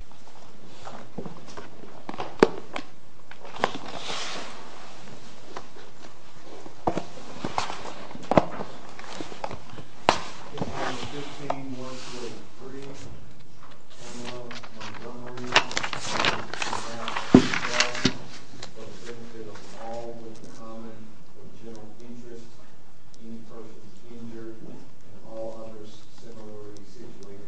This page 15 works with 3, 1 of Montgomery, 1 of Kraft, and 12, but is limited to all with common or general interest, any person injured, and all others similarly situated.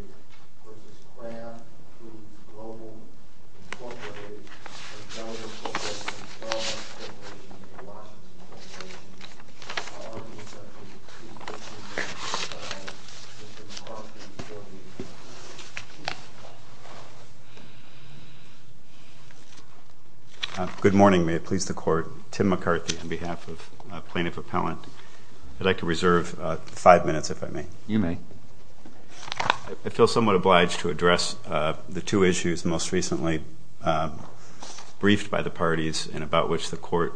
Good morning, may it please the Court, Tim McCarthy on behalf of Plaintiff Appellant. I'd like to reserve 5 minutes if I may. I feel somewhat obliged to address the two issues most recently briefed by the parties and about which the Court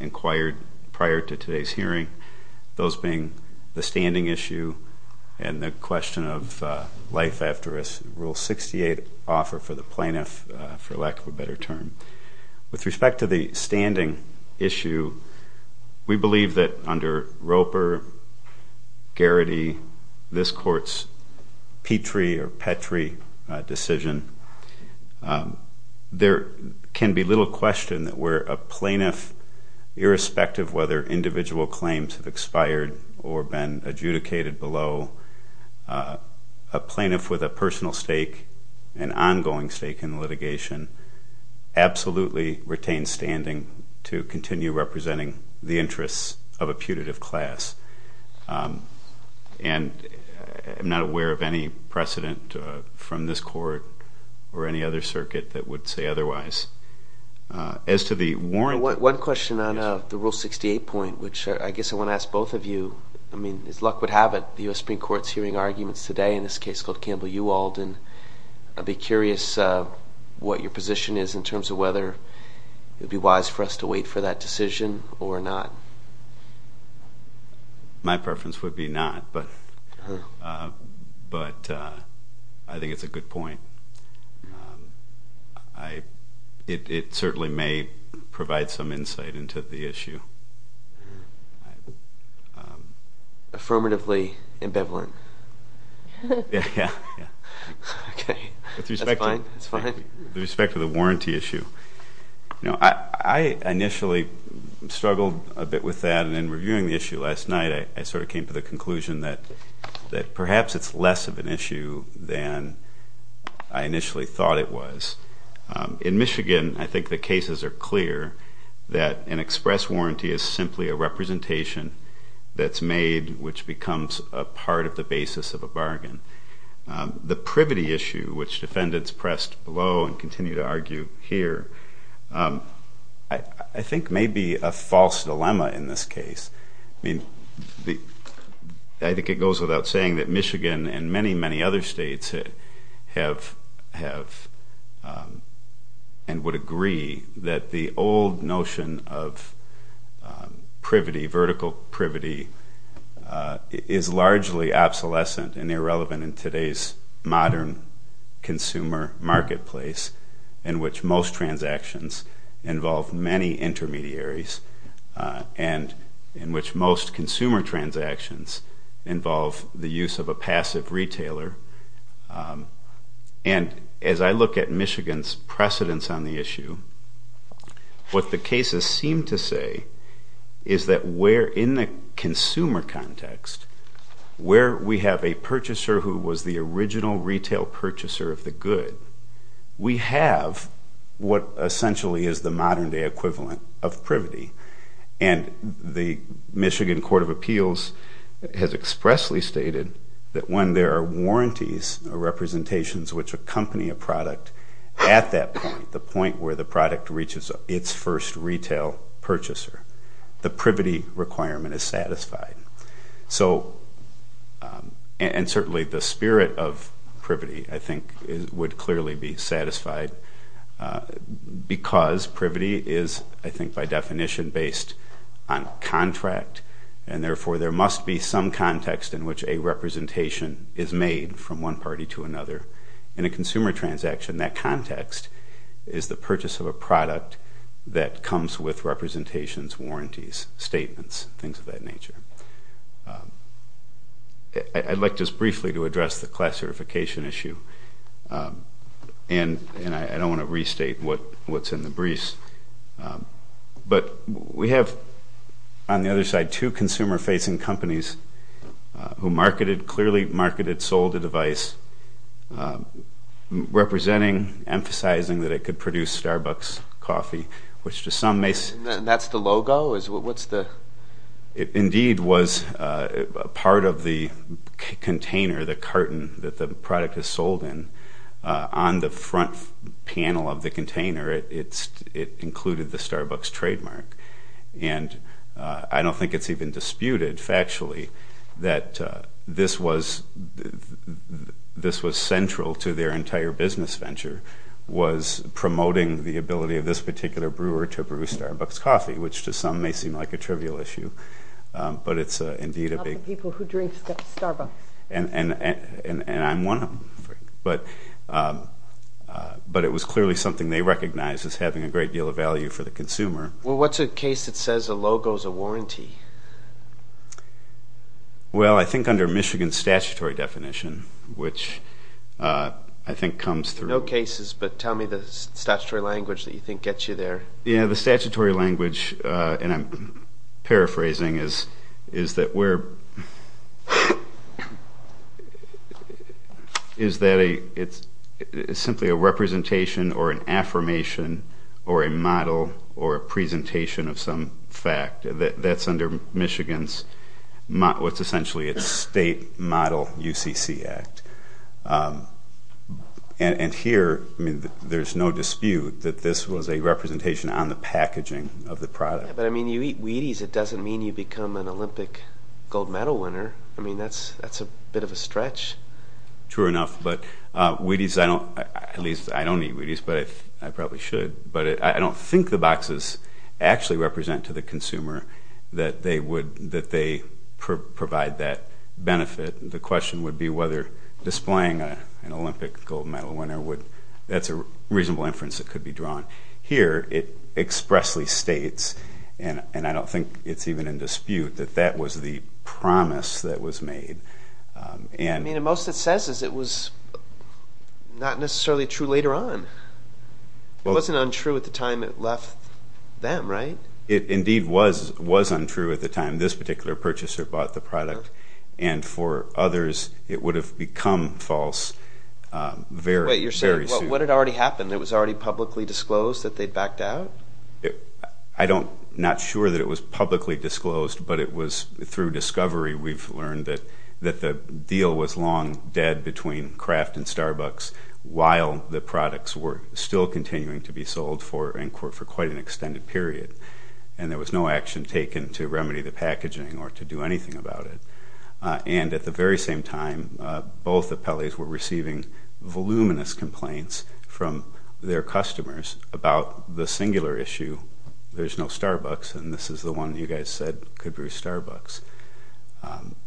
inquired prior to today's hearing, those being the standing issue and the question of life after risk, Rule 68 offer for the plaintiff, for lack of a better term. With respect to the standing issue, we believe that under Roper, Garrity, this Court's Petrie or Petrie decision, there can be little question that where a plaintiff, irrespective of whether individual claims have expired or been adjudicated below, a plaintiff with a personal stake, an ongoing stake in litigation, absolutely retain standing to continue representing the interests of a putative class. And I'm not aware of any precedent from this Court or any other circuit that would say otherwise. One question on the Rule 68 point, which I guess I want to ask both of you. I mean, as luck would have it, the U.S. Supreme Court is hearing arguments today in this case called Campbell-Uwald, and I'd be curious what your position is in terms of whether it would be wise for us to wait for that decision or not. My preference would be not, but I think it's a good point. It certainly may provide some insight into the issue. Affirmatively ambivalent. Yeah, yeah. Okay, that's fine, that's fine. With respect to the warranty issue, you know, I initially struggled a bit with that, and in reviewing the issue last night, I sort of came to the conclusion that perhaps it's less of an issue than I initially thought it was. In Michigan, I think the cases are clear that an express warranty is simply a representation that's made which becomes a part of the basis of a bargain. The privity issue, which defendants pressed below and continue to argue here, I think may be a false dilemma in this case. I mean, I think it goes without saying that Michigan and many, many other states have and would agree that the old notion of privity, vertical privity, is largely obsolescent and irrelevant in today's modern consumer marketplace, in which most transactions involve many intermediaries and in which most consumer transactions involve the use of a passive retailer. And as I look at Michigan's precedence on the issue, what the cases seem to say is that where in the consumer context, where we have a purchaser who was the original retail purchaser of the good, we have what essentially is the modern-day equivalent of privity. And the Michigan Court of Appeals has expressly stated that when there are warranties or representations which accompany a product at that point, the point where the product reaches its first retail purchaser, the privity requirement is satisfied. And certainly the spirit of privity, I think, would clearly be satisfied because privity is, I think, by definition based on contract, and therefore there must be some context in which a representation is made from one party to another. In a consumer transaction, that context is the purchase of a product that comes with representations, warranties, statements, things of that nature. I'd like just briefly to address the class certification issue, and I don't want to restate what's in the briefs. But we have, on the other side, two consumer-facing companies who marketed, clearly marketed, sold a device, representing, emphasizing that it could produce Starbucks coffee, which to some may see- And that's the logo? What's the- Indeed, was part of the container, the carton that the product is sold in, on the front panel of the container, it included the Starbucks trademark. And I don't think it's even disputed factually that this was central to their entire business venture, was promoting the ability of this particular brewer to brew Starbucks coffee, which to some may seem like a trivial issue. But it's indeed a big- Not the people who drink Starbucks. And I'm one of them, but it was clearly something they recognized as having a great deal of value for the consumer. Well, what's a case that says a logo's a warranty? Well, I think under Michigan's statutory definition, which I think comes through- No cases, but tell me the statutory language that you think gets you there. Yeah, the statutory language, and I'm paraphrasing, is that it's simply a representation or an affirmation or a model or a presentation of some fact. That's under Michigan's, what's essentially its state model UCC Act. And here, there's no dispute that this was a representation on the packaging of the product. But I mean, you eat Wheaties, it doesn't mean you become an Olympic gold medal winner. I mean, that's a bit of a stretch. True enough, but Wheaties, at least I don't eat Wheaties, but I probably should. But I don't think the boxes actually represent to the consumer that they provide that benefit. The question would be whether displaying an Olympic gold medal winner, that's a reasonable inference that could be drawn. Here, it expressly states, and I don't think it's even in dispute, that that was the promise that was made. I mean, most it says is it was not necessarily true later on. It wasn't untrue at the time it left them, right? It indeed was untrue at the time this particular purchaser bought the product. And for others, it would have become false very, very soon. Wait, you're saying what had already happened? It was already publicly disclosed that they'd backed out? I'm not sure that it was publicly disclosed, but it was through discovery we've learned that the deal was long dead between Kraft and Starbucks while the products were still continuing to be sold for quite an extended period. And there was no action taken to remedy the packaging or to do anything about it. And at the very same time, both appellees were receiving voluminous complaints from their customers about the singular issue, there's no Starbucks, and this is the one you guys said could be Starbucks.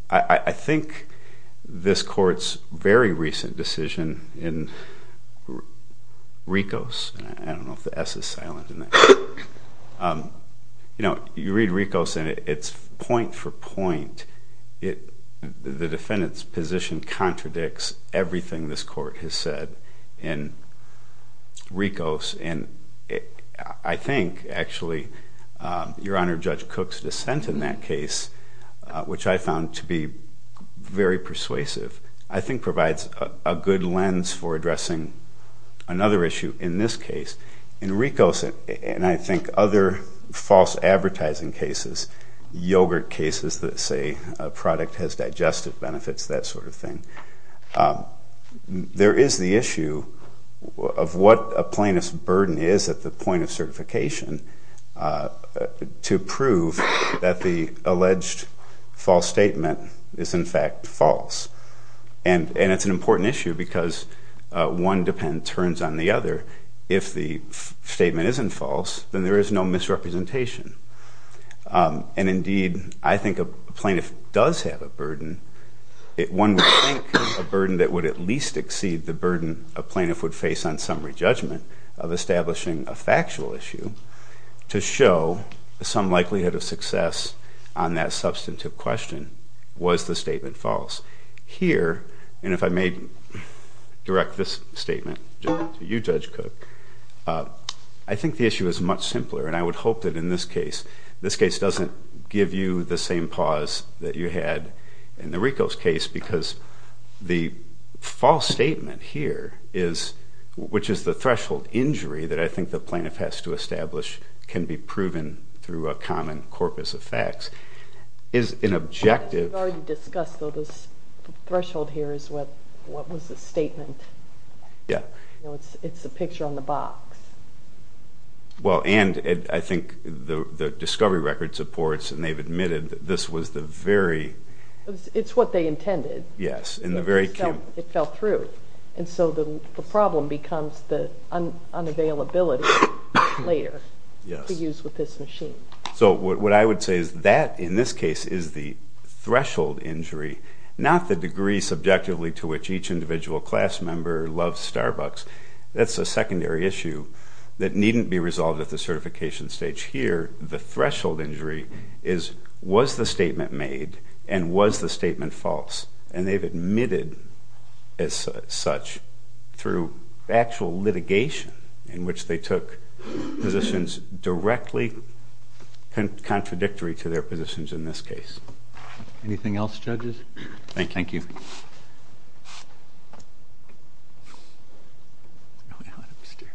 I think this court's very recent decision in Rikos, and I don't know if the S is silent. You know, you read Rikos and it's point for point. The defendant's position contradicts everything this court has said in Rikos. And I think, actually, Your Honor, Judge Cook's dissent in that case, which I found to be very persuasive, I think provides a good lens for addressing another issue in this case. In Rikos, and I think other false advertising cases, yogurt cases that say a product has digestive benefits, that sort of thing, there is the issue of what a plaintiff's burden is at the point of certification to prove that the alleged false statement is in fact false. And it's an important issue because one defendant turns on the other. If the statement isn't false, then there is no misrepresentation. And indeed, I think a plaintiff does have a burden. One would think a burden that would at least exceed the burden a plaintiff would face on summary judgment of establishing a factual issue to show some likelihood of success on that substantive question, was the statement false. Here, and if I may direct this statement to you, Judge Cook, I think the issue is much simpler, and I would hope that in this case, this case doesn't give you the same pause that you had in the Rikos case because the false statement here, which is the threshold injury that I think the plaintiff has to establish can be proven through a common corpus of facts, is an objective. We've already discussed, though, this threshold here is what was the statement. Yeah. It's a picture on the box. Well, and I think the discovery record supports, and they've admitted that this was the very... It's what they intended. Yes. It fell through, and so the problem becomes the unavailability later to use with this machine. So what I would say is that, in this case, is the threshold injury, not the degree subjectively to which each individual class member loves Starbucks. That's a secondary issue that needn't be resolved at the certification stage. Here, the threshold injury is, was the statement made and was the statement false? And they've admitted as such through actual litigation in which they took positions directly contradictory to their positions in this case. Thank you. Thank you. It's really hot upstairs.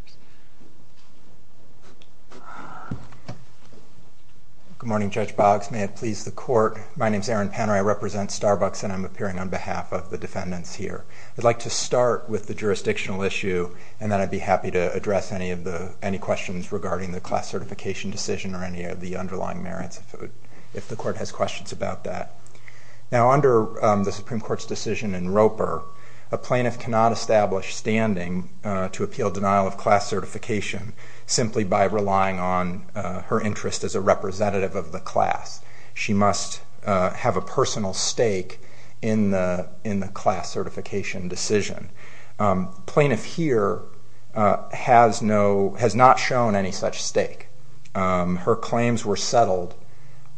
Good morning, Judge Boggs. May it please the Court. My name is Aaron Panner. I represent Starbucks, and I'm appearing on behalf of the defendants here. I'd like to start with the jurisdictional issue, and then I'd be happy to address any questions regarding the class certification decision or any of the underlying merits if the Court has questions about that. Now, under the Supreme Court's decision in Roper, a plaintiff cannot establish standing to appeal denial of class certification simply by relying on her interest as a representative of the class. She must have a personal stake in the class certification decision. The plaintiff here has no, has not shown any such stake. Her claims were settled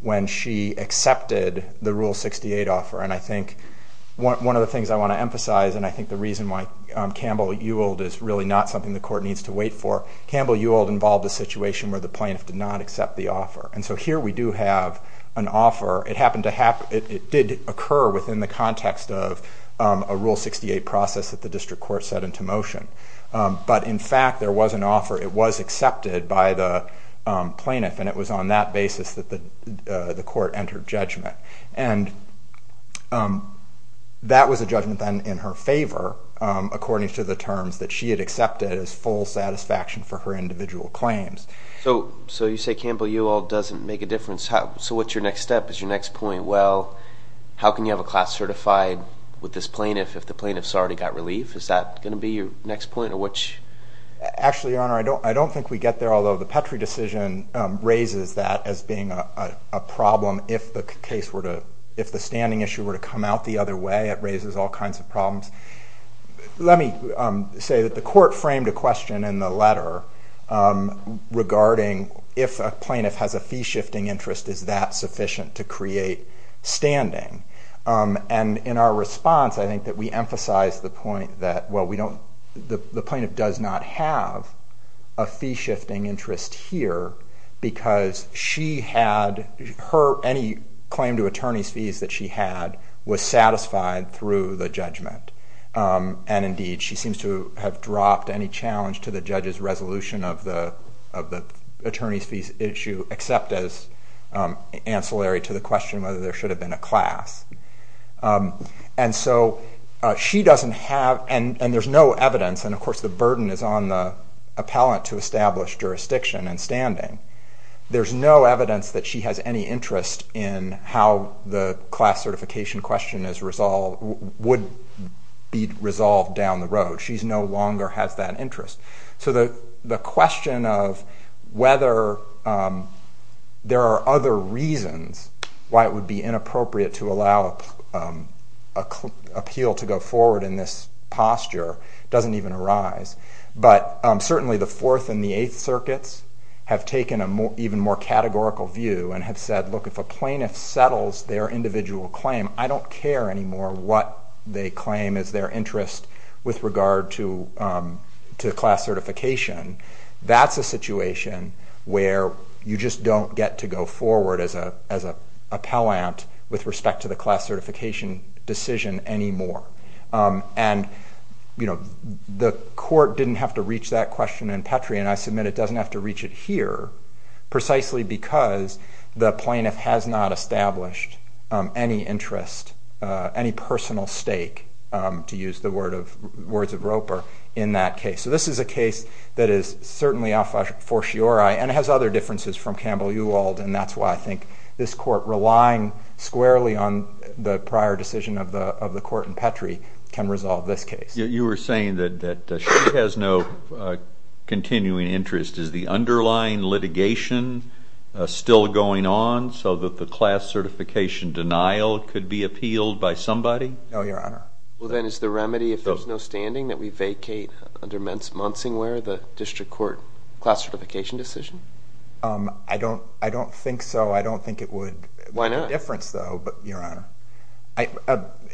when she accepted the Rule 68 offer, and I think one of the things I want to emphasize, and I think the reason why Campbell-Uold is really not something the Court needs to wait for, Campbell-Uold involved a situation where the plaintiff did not accept the offer. And so here we do have an offer. It did occur within the context of a Rule 68 process that the District Court set into motion. But in fact, there was an offer. It was accepted by the plaintiff, and it was on that basis that the Court entered judgment. And that was a judgment then in her favor, according to the terms that she had accepted as full satisfaction for her individual claims. So you say Campbell-Uold doesn't make a difference. So what's your next step? Is your next point, well, how can you have a class certified with this plaintiff if the plaintiff's already got relief? Is that going to be your next point? Actually, Your Honor, I don't think we get there, although the Petrie decision raises that as being a problem. If the standing issue were to come out the other way, it raises all kinds of problems. Let me say that the Court framed a question in the letter regarding if a plaintiff has a fee-shifting interest, is that sufficient to create standing? And in our response, I think that we emphasized the point that, well, the plaintiff does not have a fee-shifting interest here because any claim to attorney's fees that she had was satisfied through the judgment. And indeed, she seems to have dropped any challenge to the judge's resolution of the attorney's fees issue, except as ancillary to the question whether there should have been a class. And so she doesn't have, and there's no evidence, and of course the burden is on the appellant to establish jurisdiction and standing. There's no evidence that she has any interest in how the class certification question would be resolved down the road. She no longer has that interest. So the question of whether there are other reasons why it would be inappropriate to allow an appeal to go forward in this posture doesn't even arise. But certainly the Fourth and the Eighth Circuits have taken an even more categorical view and have said, look, if a plaintiff settles their individual claim, I don't care anymore what they claim is their interest with regard to class certification. That's a situation where you just don't get to go forward as an appellant with respect to the class certification decision anymore. And the court didn't have to reach that question in Petrie, and I submit it doesn't have to reach it here, precisely because the plaintiff has not established any interest, any personal stake, to use the words of Roper, in that case. So this is a case that is certainly a fortiori and has other differences from Campbell-Uwald, and that's why I think this court, relying squarely on the prior decision of the court in Petrie, can resolve this case. You were saying that she has no continuing interest. Is the underlying litigation still going on so that the class certification denial could be appealed by somebody? No, Your Honor. Well, then is the remedy, if there's no standing, that we vacate under Monsingware the district court class certification decision? I don't think so. I don't think it would make a difference, though, Your Honor.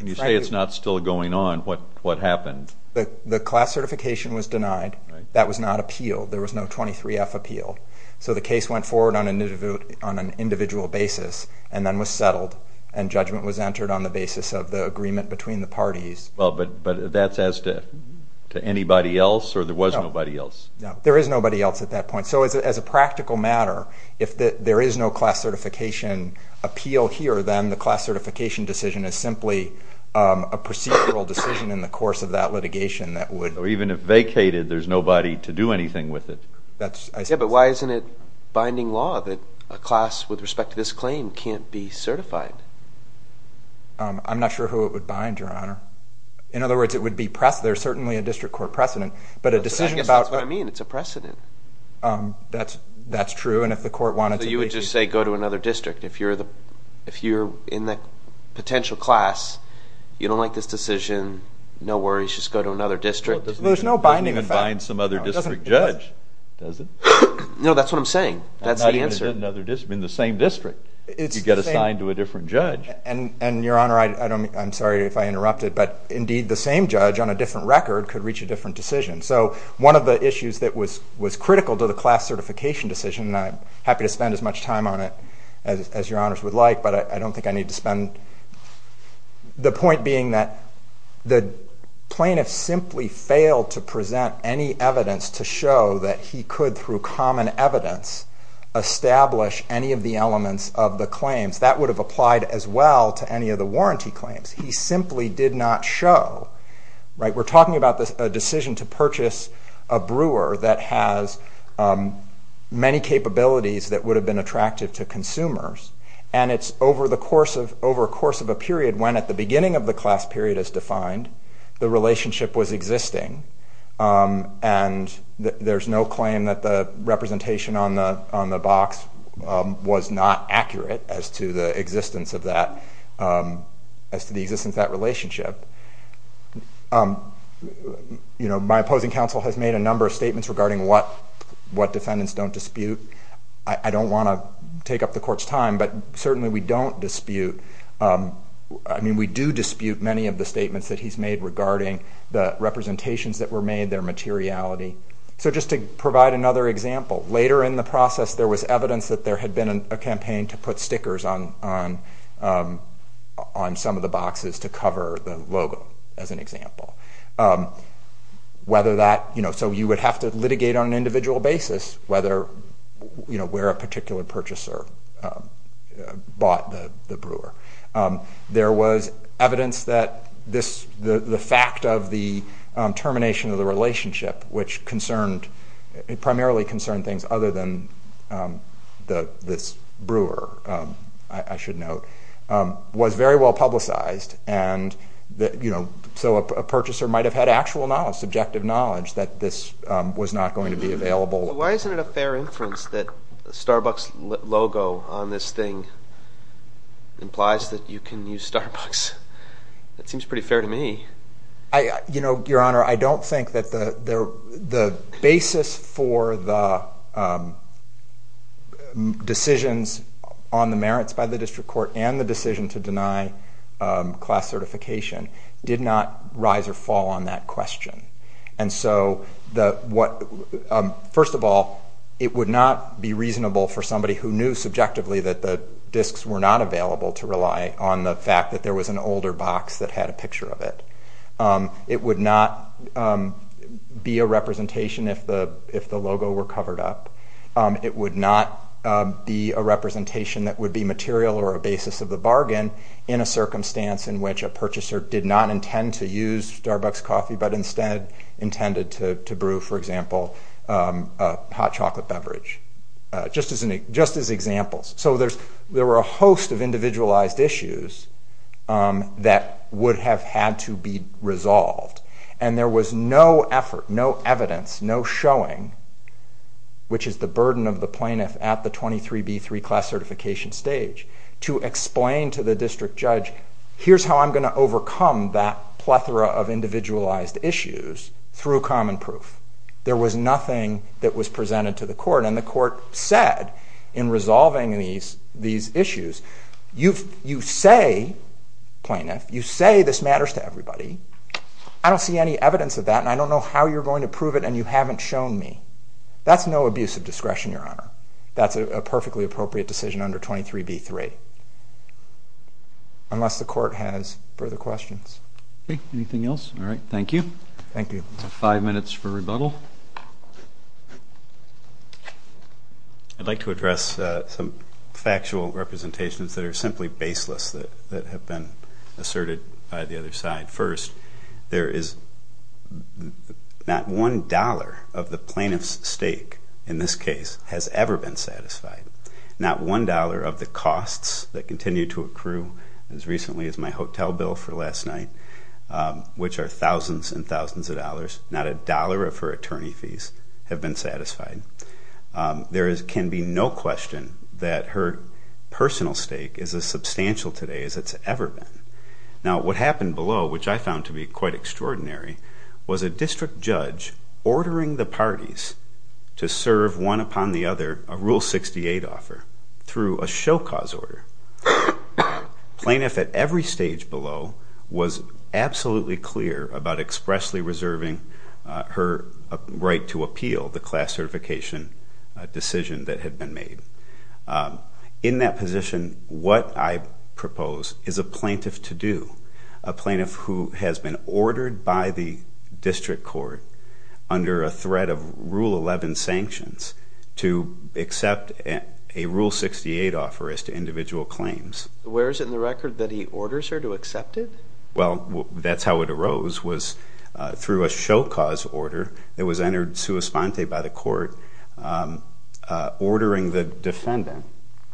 You say it's not still going on. What happened? The class certification was denied. That was not appealed. There was no 23F appeal. So the case went forward on an individual basis and then was settled, and judgment was entered on the basis of the agreement between the parties. Well, but that's as to anybody else, or there was nobody else? No, there is nobody else at that point. So as a practical matter, if there is no class certification appeal here, then the class certification decision is simply a procedural decision in the course of that litigation that would or even if vacated, there's nobody to do anything with it. Yeah, but why isn't it binding law that a class with respect to this claim can't be certified? I'm not sure who it would bind, Your Honor. In other words, there's certainly a district court precedent, but a decision about I guess that's what I mean. It's a precedent. That's true, and if the court wanted to So you would just say go to another district. If you're in the potential class, you don't like this decision, no worries. Just go to another district. There's no binding effect. It doesn't even bind some other district judge, does it? No, that's what I'm saying. That's the answer. In the same district, you get assigned to a different judge. And, Your Honor, I'm sorry if I interrupted, but indeed the same judge on a different record could reach a different decision. So one of the issues that was critical to the class certification decision, and I'm happy to spend as much time on it as Your Honors would like, but I don't think I need to spend... The point being that the plaintiff simply failed to present any evidence to show that he could, through common evidence, establish any of the elements of the claims. That would have applied as well to any of the warranty claims. He simply did not show. We're talking about a decision to purchase a brewer that has many capabilities that would have been attractive to consumers, and it's over a course of a period when, at the beginning of the class period as defined, the relationship was existing, and there's no claim that the representation on the box was not accurate as to the existence of that relationship. My opposing counsel has made a number of statements regarding what defendants don't dispute. I don't want to take up the Court's time, but certainly we don't dispute... I mean, we do dispute many of the statements that he's made regarding the representations that were made, their materiality. So just to provide another example, later in the process there was evidence that there had been a campaign to put stickers on some of the boxes to cover the logo, as an example. So you would have to litigate on an individual basis where a particular purchaser bought the brewer. There was evidence that the fact of the termination of the relationship, which primarily concerned things other than this brewer, I should note, was very well publicized, so a purchaser might have had actual knowledge, subjective knowledge, that this was not going to be available. Why isn't it a fair inference that the Starbucks logo on this thing implies that you can use Starbucks? That seems pretty fair to me. Your Honor, I don't think that the basis for the decisions on the merits by the District Court and the decision to deny class certification did not rise or fall on that question. First of all, it would not be reasonable for somebody who knew subjectively that the discs were not available to rely on the fact that there was an older box that had a picture of it. It would not be a representation if the logo were covered up. It would not be a representation that would be material or a basis of the bargain in a circumstance in which a purchaser did not intend to use Starbucks coffee, but instead intended to brew, for example, a hot chocolate beverage, just as examples. So there were a host of individualized issues that would have had to be resolved, and there was no effort, no evidence, no showing, which is the burden of the plaintiff at the 23B3 class certification stage, to explain to the district judge, here's how I'm going to overcome that plethora of individualized issues through common proof. There was nothing that was presented to the court, and the court said in resolving these issues, you say, plaintiff, you say this matters to everybody. I don't see any evidence of that, and I don't know how you're going to prove it, and you haven't shown me. That's no abuse of discretion, Your Honor. That's a perfectly appropriate decision under 23B3. Unless the court has further questions. Okay, anything else? All right, thank you. Thank you. Five minutes for rebuttal. I'd like to address some factual representations that are simply baseless that have been asserted by the other side. First, there is not one dollar of the plaintiff's stake in this case has ever been satisfied. Not one dollar of the costs that continue to accrue, as recently as my hotel bill for last night, which are thousands and thousands of dollars, not a dollar of her attorney fees have been satisfied. There can be no question that her personal stake is as substantial today as it's ever been. Now, what happened below, which I found to be quite extraordinary, was a district judge ordering the parties to serve one upon the other a Rule 68 offer through a show cause order. Plaintiff at every stage below was absolutely clear about expressly reserving her right to appeal the class certification decision that had been made. In that position, what I propose is a plaintiff to do, a plaintiff who has been ordered by the district court under a threat of Rule 11 sanctions to accept a Rule 68 offer as to individual claims. Where is it in the record that he orders her to accept it? Well, that's how it arose, was through a show cause order that was entered sui sponte by the court ordering the defendant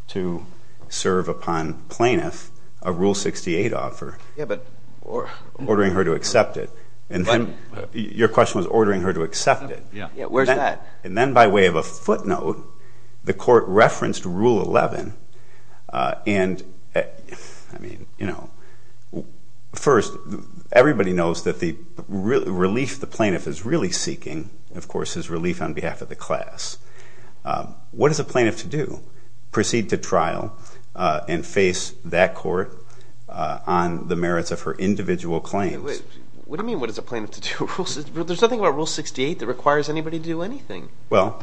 to serve upon plaintiff a Rule 68 offer, ordering her to accept it. And then your question was ordering her to accept it. Where's that? And then by way of a footnote, the court referenced Rule 11. And first, everybody knows that the relief the plaintiff is really seeking, of course, is relief on behalf of the class. What is a plaintiff to do? Proceed to trial and face that court on the merits of her individual claims. What do you mean, what is a plaintiff to do? There's nothing about Rule 68 that requires anybody to do anything. Well,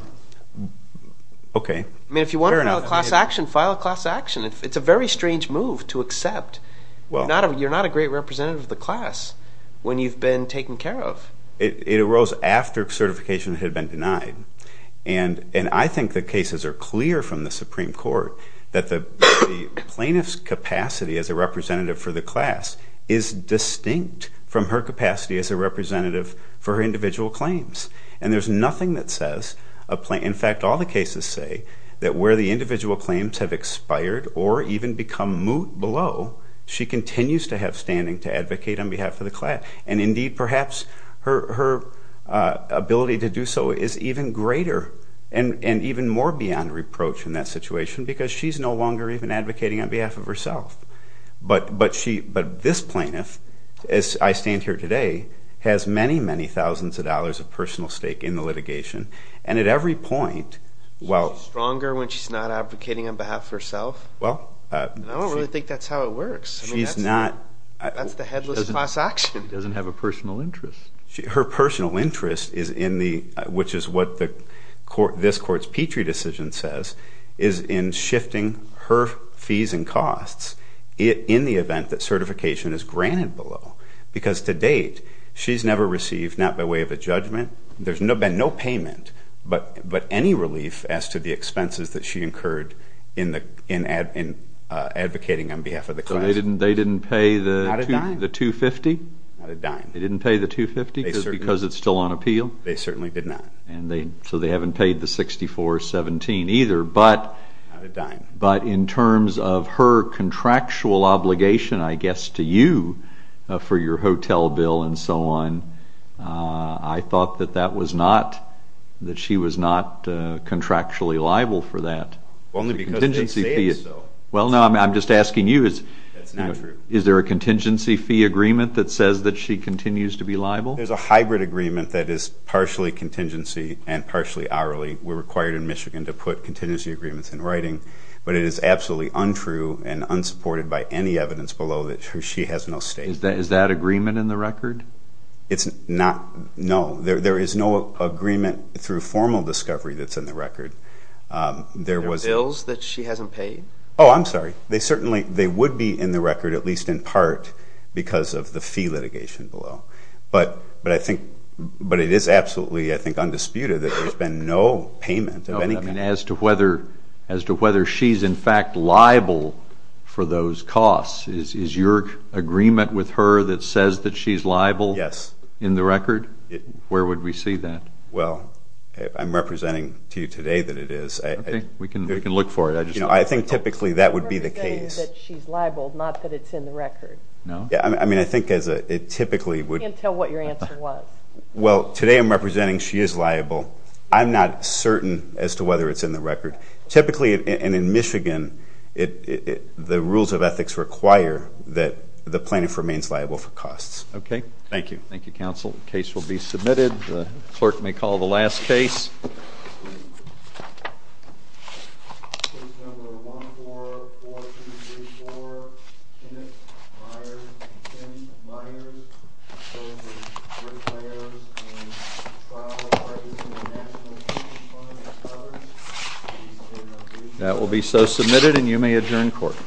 okay. I mean, if you want to file a class action, file a class action. It's a very strange move to accept. You're not a great representative of the class when you've been taken care of. It arose after certification had been denied. And I think the cases are clear from the Supreme Court that the plaintiff's capacity as a representative for the class is distinct from her capacity as a representative for her individual claims. And there's nothing that says, in fact, all the cases say, that where the individual claims have expired or even become moot below, she continues to have standing to advocate on behalf of the class. And, indeed, perhaps her ability to do so is even greater and even more beyond reproach in that situation because she's no longer even advocating on behalf of herself. But this plaintiff, as I stand here today, has many, many thousands of dollars of personal stake in the litigation. And at every point, well— Is she stronger when she's not advocating on behalf of herself? Well— I don't really think that's how it works. She's not— That's the headless class action. She doesn't have a personal interest. Her personal interest is in the— which is what this court's Petrie decision says is in shifting her fees and costs in the event that certification is granted below. Because, to date, she's never received, not by way of a judgment— there's been no payment, but any relief as to the expenses that she incurred in advocating on behalf of the class. So they didn't pay the $250? Not a dime. They didn't pay the $250 because it's still on appeal? They certainly did not. And so they haven't paid the $64.17 either. But— Not a dime. But in terms of her contractual obligation, I guess, to you for your hotel bill and so on, I thought that that was not— that she was not contractually liable for that. Only because they say it's so. Well, no, I'm just asking you. That's not true. Is there a contingency fee agreement that says that she continues to be liable? There's a hybrid agreement that is partially contingency and partially hourly. We're required in Michigan to put contingency agreements in writing. But it is absolutely untrue and unsupported by any evidence below that she has no state. Is that agreement in the record? It's not—no. There is no agreement through formal discovery that's in the record. There was— There are bills that she hasn't paid? Oh, I'm sorry. They certainly—they would be in the record, at least in part, because of the fee litigation below. But I think—but it is absolutely, I think, undisputed that there's been no payment of any kind. As to whether she's, in fact, liable for those costs, is your agreement with her that says that she's liable? Yes. In the record? Where would we see that? Well, I'm representing to you today that it is. Okay, we can look for it. You know, I think typically that would be the case. You're representing that she's liable, not that it's in the record. No. I mean, I think it typically would— You can't tell what your answer was. Well, today I'm representing she is liable. I'm not certain as to whether it's in the record. Typically, and in Michigan, the rules of ethics require that the plaintiff remains liable for costs. Okay. Thank you. Thank you, counsel. The case will be submitted. The clerk may call the last case. Case number 14-4234, Kenneth Myers v. Kenny Myers, charged with bricklayers and trial parties in the National Commission of Funding Scholars. Please state your name and address. That will be so submitted, and you may adjourn court.